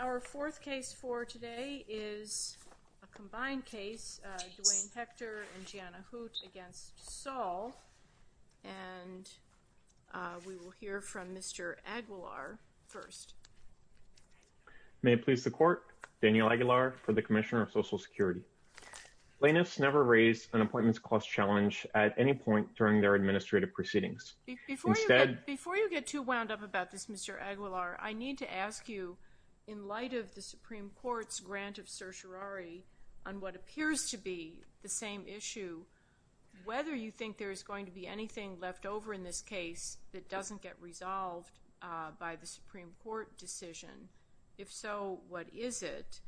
Our fourth case for today is a combined case Duane Hekter and Gianna Hoot against Saul and we will hear from Mr. Aguilar first. May it please the court, Daniel Aguilar for the Commissioner of Social Security. Plaintiffs never raised an appointments cost challenge at any point during their administrative proceedings. Before you get too wound up about this Mr. Aguilar I need to ask you in light of the Supreme Court's grant of certiorari on what appears to be the same issue whether you think there is going to be anything left over in this case that doesn't get resolved by the Supreme Court decision. If so what is it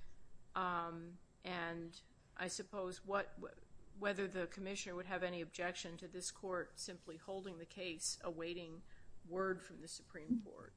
and I suppose what whether the Commissioner would have any objection to this court simply holding the case awaiting word from the Supreme Court.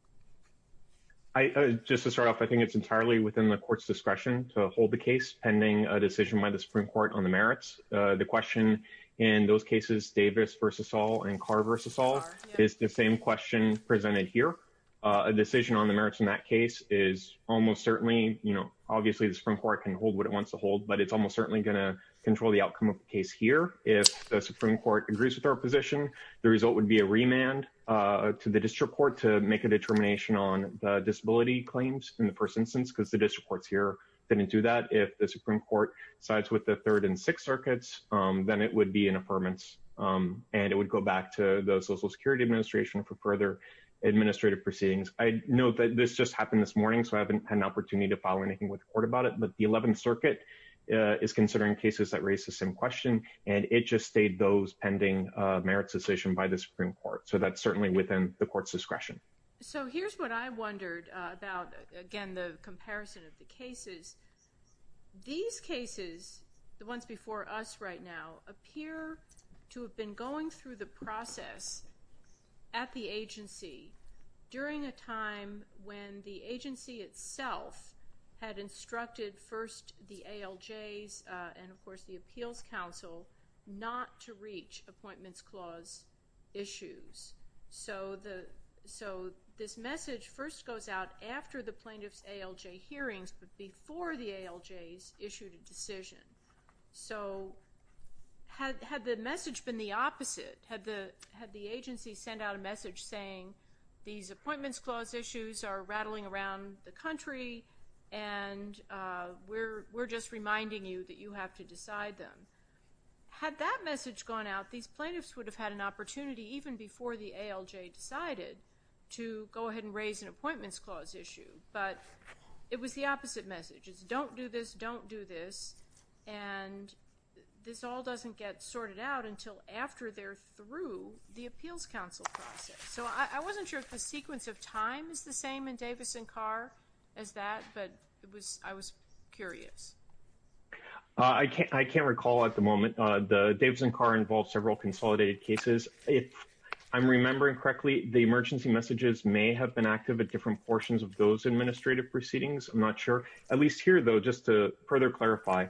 I just to start off I think it's entirely within the court's discretion to hold the case pending a decision by the Supreme Court on the merits. The question in those cases Davis versus Saul and Carr versus Saul is the same question presented here. A decision on the merits in that case is almost certainly you know obviously the Supreme Court can hold what it wants to hold but it's almost certainly gonna control the outcome of the case here. If the Supreme Court agrees with our position the result would be a remand to the district court to make a determination on the disability claims in the first instance because the district courts here didn't do that. If the Supreme Court sides with the third and sixth circuits then it would be an affirmance and it would go back to the Social Security Administration for further administrative proceedings. I know that this just happened this morning so I haven't had an opportunity to follow anything with the court about it but the 11th Circuit is considering cases that raise the same question and it just stayed those pending merits decision by the Supreme Court so that's certainly within the court's discretion. So here's what I wondered about again the comparison of the cases. These cases the ones before us right now appear to have been going through the process at the agency during a time when the agency itself had instructed first the ALJs and of course the Appeals Council not to reach Appointments Clause issues so the so this message first goes out after the plaintiff's ALJ hearings but before the ALJs issued a decision. So had the message been the opposite? Had the agency sent out a message saying these Appointments Clause issues are rattling around the country and we're just reminding you that you have to decide them. Had that message gone out these plaintiffs would have had an opportunity even before the ALJ decided to go ahead and raise an Appointments Clause issue but it was the opposite message. It's don't do this, don't do this and this all doesn't get sorted out until after they're through the Appeals Council process. So I wasn't sure if the sequence of time is the same in Davis and Carr as that but it was I was curious. I can't I can't recall at the moment the Davis and Carr involved several consolidated cases. If I'm remembering correctly the emergency messages may have been active at different portions of those administrative proceedings I'm not sure. At least here though just to further clarify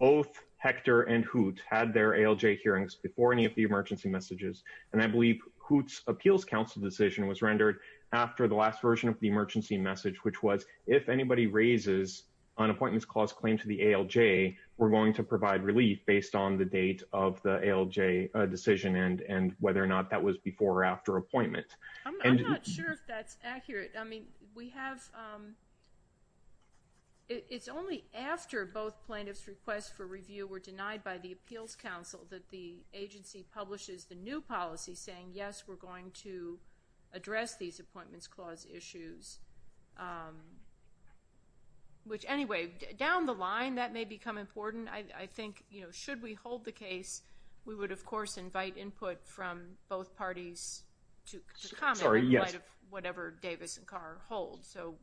both Hector and Hoot had their ALJ hearings before any of the emergency messages and I believe Hoot's Appeals Council decision was rendered after the last version of the emergency message which was if anybody raises an Appointments Clause claim to the ALJ we're going to provide relief based on the date of the ALJ decision and and whether or not that was before or after appointment. I'm not sure if that's accurate I mean we have it's only after both plaintiffs requests for review were denied by the Appeals Council that the agency publishes the new policy saying yes we're going to address these Appointments Clause issues which anyway down the line that may become important I think you know should we hold the case we would of course invite input from both parties to comment in light of whatever Davis and Carr hold so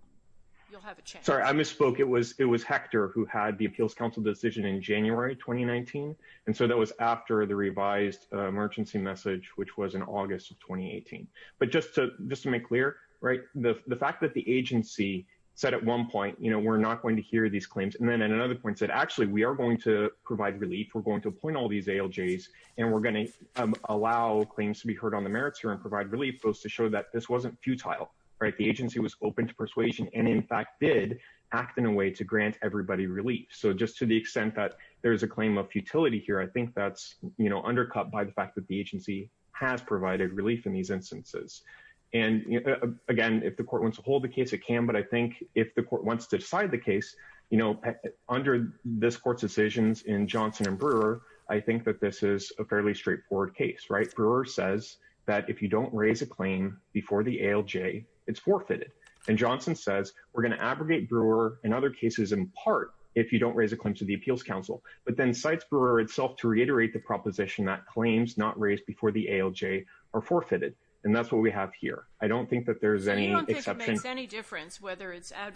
you'll have a chance. Sorry I misspoke it was it was Hector who had the Appeals Council decision in January 2019 and so that was after the revised emergency message which was in August of 2018 but just to just to make clear right the fact that the agency said at one point you know we're not going to hear these claims and then at another point said actually we are going to provide relief we're going to appoint all these ALJs and we're going to allow claims to be heard on the merits here and provide relief those to show that this wasn't futile right the agency was open to persuasion and in fact did act in a way to grant everybody relief so just to the extent that there's a claim of futility here I think that's you know undercut by the fact that the agency has provided relief in these instances and again if the court wants to hold the case it can but I think if the court wants to decide the case you know under this court's decisions in Johnson and I think that this is a fairly straightforward case right Brewer says that if you don't raise a claim before the ALJ it's forfeited and Johnson says we're going to abrogate Brewer and other cases in part if you don't raise a claim to the Appeals Council but then cites Brewer itself to reiterate the proposition that claims not raised before the ALJ are forfeited and that's what we have here I don't think that there's any difference whether it's a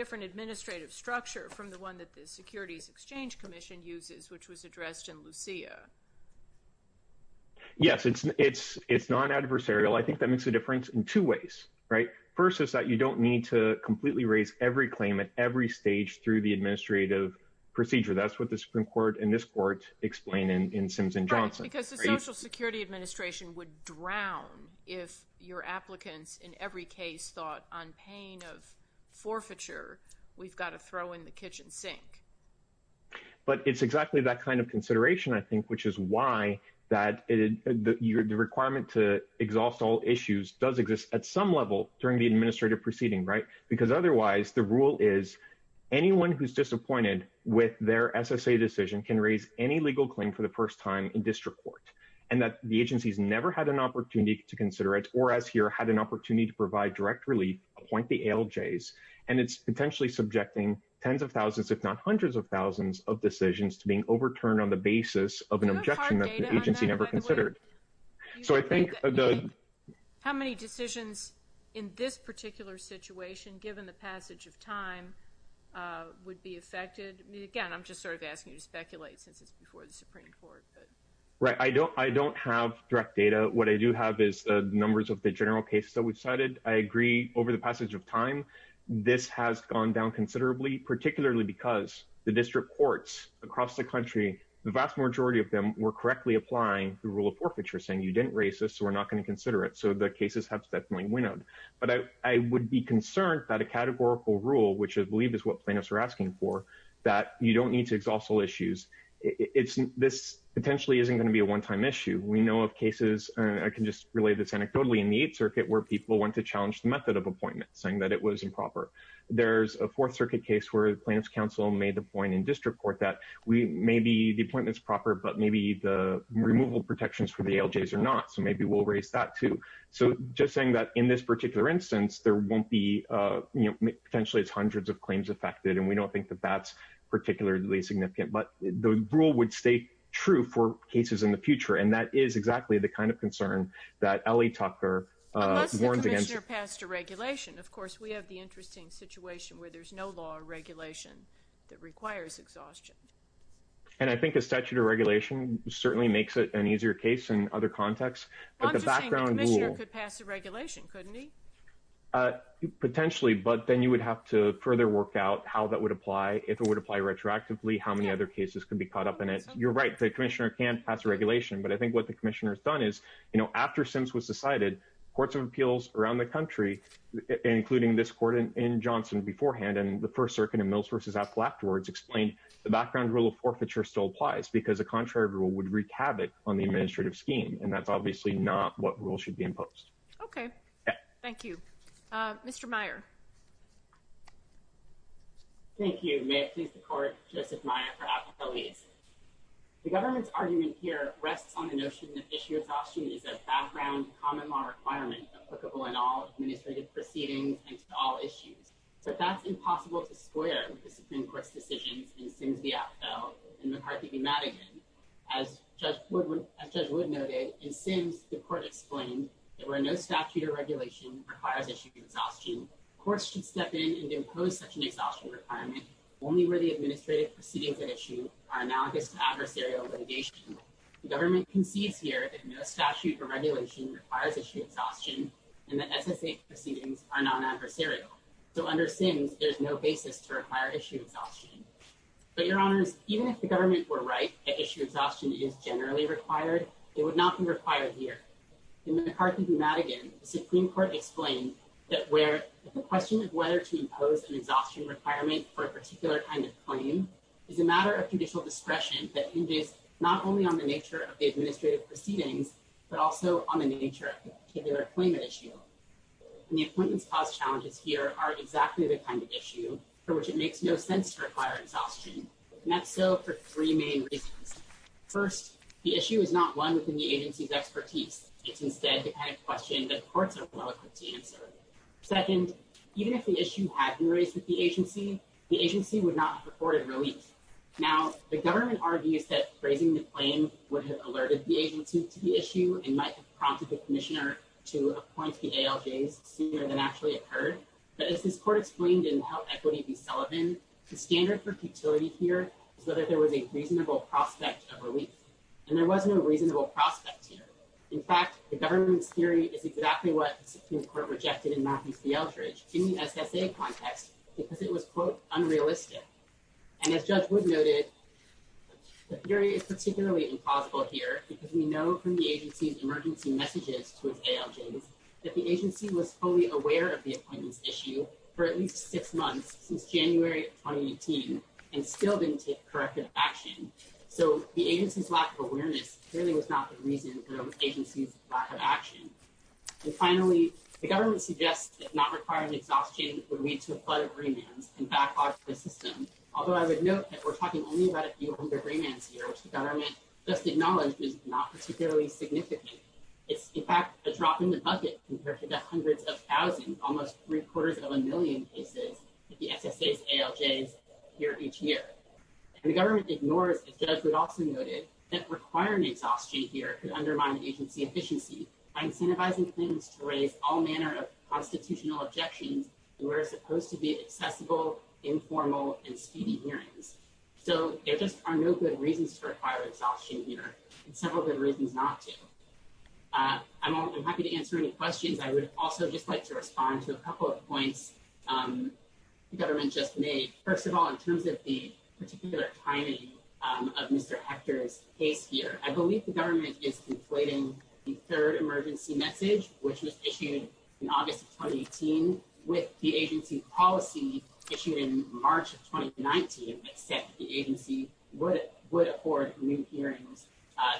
different administrative structure from the one that the Securities Exchange Commission uses which was addressed in Lucia yes it's it's it's non-adversarial I think that makes a difference in two ways right first is that you don't need to completely raise every claim at every stage through the administrative procedure that's what the Supreme Court in this court explained in in Simpson Johnson because the Social Security Administration would drown if your applicants in every case thought on pain of forfeiture we've got to throw in the kitchen sink but it's exactly that kind of consideration I think which is why that is the requirement to exhaust all issues does exist at some level during the administrative proceeding right because otherwise the rule is anyone who's disappointed with their SSA decision can raise any legal claim for the first time in district court and that the agency's never had an opportunity to consider it or as here had an opportunity to provide direct relief appoint the ALJ's and it's potentially subjecting tens of thousands if not hundreds of thousands of decisions to being overturned on the basis of an objection that agency never considered so I think how many decisions in this particular situation given the passage of time would be affected again I'm just sort of asking you to speculate since it's before the Supreme Court right I don't I don't have direct data what I do have is the numbers of the general cases that we've cited I agree over the passage of time this has gone down considerably particularly because the district courts across the country the vast majority of them were correctly applying the rule of forfeiture saying you didn't raise this so we're not going to consider it so the cases have definitely winnowed but I would be concerned that a categorical rule which I believe is what plaintiffs are asking for that you don't need to exhaust all issues it's this potentially isn't going to be a one-time issue we know of cases and I can just relay this anecdotally in the 8th Circuit where people want to challenge the method of appointment saying that it was improper there's a 4th Circuit case where the plaintiffs counsel made the point in district court that we may be the appointments proper but maybe the removal protections for the ALJ's are not so maybe we'll raise that too so just saying that in this particular instance there won't be you know potentially it's hundreds of claims affected and we don't think that that's particularly significant but the rule would stay true for cases in the future and that is exactly the kind of concern that Ellie Tucker warned against. Unless the Commissioner passed a regulation of course we have the interesting situation where there's no law or regulation that requires exhaustion. And I think a statute of regulation certainly makes it an easier case in other contexts but the background rule. Well I'm just saying the Commissioner could pass a regulation couldn't he? Potentially but then you would have to further work out how that would apply if it would apply retroactively how many other cases can be caught up in it you're right the Commissioner can pass a regulation but I think what the Commissioner has done is you know after Sims was decided courts of appeals around the country including this court in Johnson beforehand and the 1st Circuit and Mills vs. Apple afterwards explained the background rule of forfeiture still applies because a contrary rule would wreak havoc on the administrative scheme and that's obviously not what rule should be imposed. Okay. Thank you. Mr. Meyer. Thank you. May it please the Court. Joseph Meyer for Appellees. The government's argument here rests on the notion that issue exhaustion is a background common law requirement applicable in all administrative proceedings and to all issues. But that's impossible to square with the Supreme Court's decisions in Sims v. Appell and McCarthy v. Madigan. As Judge Wood noted in Sims the court explained there were no statute or regulation that requires issue exhaustion. Courts should step in and impose such an exhaustion requirement only where the administrative proceedings at issue are analogous to adversarial litigation. The government concedes here that no statute or regulation requires issue exhaustion and the SSA proceedings are not adversarial. So under Sims there's no basis to require issue exhaustion. But your honors even if the government were right that issue exhaustion is generally required it would not be required here. In McCarthy v. Madigan the Supreme Court explained that where the question of whether to impose an exhaustion requirement for a particular kind of claim is a matter of judicial discretion that hinges not only on the nature of the administrative proceedings but also on the nature of the particular claim at issue. And the appointments caused challenges here are exactly the kind of issue for which it makes no sense to require exhaustion. And that's so for three main reasons. First, the issue is not one within the agency's expertise. It's instead the kind of question that courts are well equipped to answer. Second, even if the issue had been raised with the agency, the agency would not have afforded relief. Now the government argues that raising the claim would have alerted the agency to the issue and might have prompted the Commissioner to appoint the ALJs sooner than actually occurred. But as this court explained in Health Equity v. Sullivan, the standard for futility here is whether there was a reasonable prospect of relief. And there was no reasonable prospect here. In fact, the government's response is exactly what the Supreme Court rejected in Matthews v. Eldridge in the SSA context because it was quote, unrealistic. And as Judge Wood noted, the theory is particularly implausible here because we know from the agency's emergency messages to its ALJs that the agency was fully aware of the appointments issue for at least six months since January of 2018 and still didn't take corrective action. So the agency's lack of awareness clearly was not the reason for the agency's lack of action. And finally, the government suggests that not requiring exhaustion would lead to a flood of remands and backlog to the system. Although I would note that we're talking only about a few hundred remands here, which the government just acknowledged is not particularly significant. It's in fact a drop in the bucket compared to the hundreds of thousands, almost three-quarters of a million cases that the SSA's ALJs hear each year. And the government ignores, as Judge Wood also noted, that requiring exhaustion here could undermine agency efficiency by incentivizing things to raise all manner of constitutional objections in what are supposed to be accessible, informal, and speedy hearings. So there just are no good reasons to require exhaustion here, and several good reasons not to. I'm happy to answer any questions. I would also just like to respond to a couple of points the government just made. First of all, in terms of the particular timing of Mr. Hector's case here, I believe the government is conflating the third emergency message, which was issued in August of 2018, with the agency policy issued in March of 2019 that said the agency would afford new hearings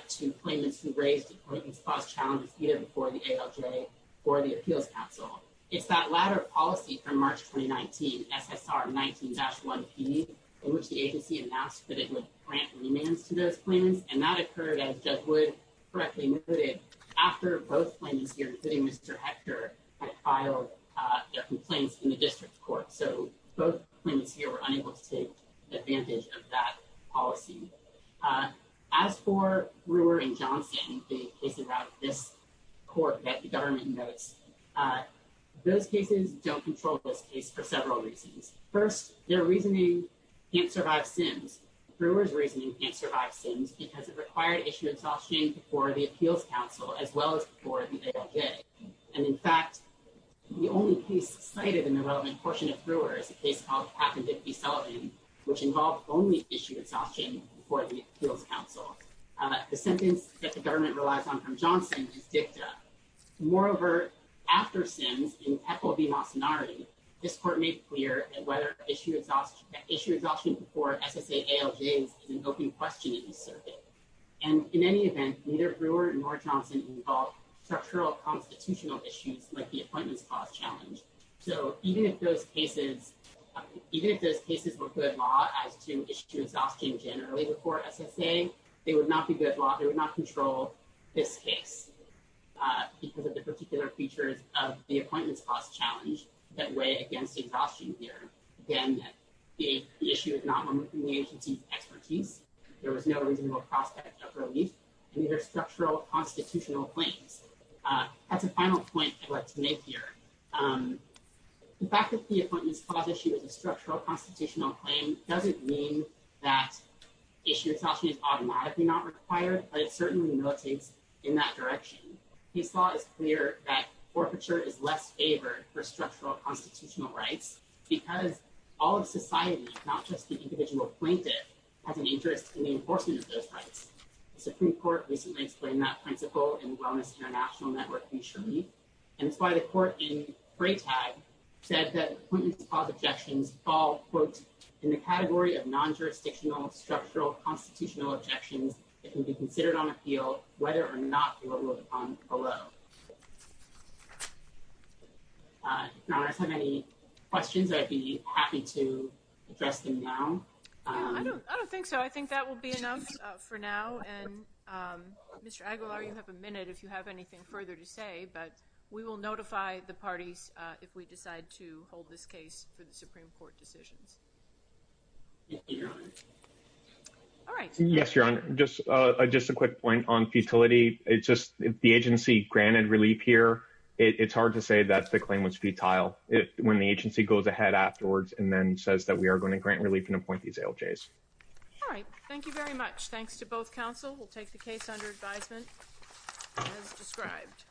to claimants who raised importance-plus challenges either before the ALJ or the Appeals Council. It's that latter policy from March 2019, SSR 19-1P, in which the agency announced that it would grant remands to those claims, and that occurred, as Judge Wood correctly noted, after both claimants' hearings. So both claimants, including Mr. Hector, filed their complaints in the district court. So both claimants here were unable to take advantage of that policy. As for Brewer and Johnson, the cases out of this court that the government notes, those cases don't control this case for several reasons. First, their reasoning can't survive Sims. Brewer's reasoning can't survive Sims because it required issuance of shame before the Appeals Council, as well as before the ALJ. And in fact, the only case cited in the relevant portion of Brewer is a case called Papp and Dickey-Sullivan, which involved only issuance of shame before the Appeals Council. The sentence that the government relies on from Johnson is dicta. Moreover, after Sims, in Peckle v. Mocenari, this court made clear that whether issue exhaustion before SSA ALJs is an open question in the circuit. And in any event, neither Brewer nor Johnson involved structural constitutional issues like the Appointments Clause challenge. So even if those cases were good law as to issue exhaustion generally before SSA, they would not be good law. They would not control this case because of the particular features of the Appointments Clause challenge that weigh against the exhaustion here. Again, the issue is not within the agency's expertise. There was no reasonable prospect of relief. These are structural constitutional claims. That's a final point I'd like to make here. The fact that the Appointments Clause issue is a structural constitutional claim doesn't mean that issue exhaustion is automatically not required, but it certainly notates in that direction. The Supreme Court recently explained that principle in Wellness International Network v. Sharif, and it's why the court in Fraytag said that Appointments Clause objections fall, quote, in the category of non-jurisdictional structural constitutional objections that can be considered on appeal whether or not the law will depend on them. Although I have any questions, I'd be happy to address them now. I don't think so. I think that will be enough for now. And Mr. Aguilar, you have a minute if you have anything further to say, but we will notify the parties if we decide to hold this case for the Supreme Court decisions. All right. Yes, Your Honor. Just a quick point on futility. It's just the agency granted relief here. It's hard to say that the claim was futile when the agency goes ahead afterwards and then says that we are going to grant relief and appoint these ALJs. All right. Thank you very much. Thanks to both counsel. We'll take the case under advisement as described.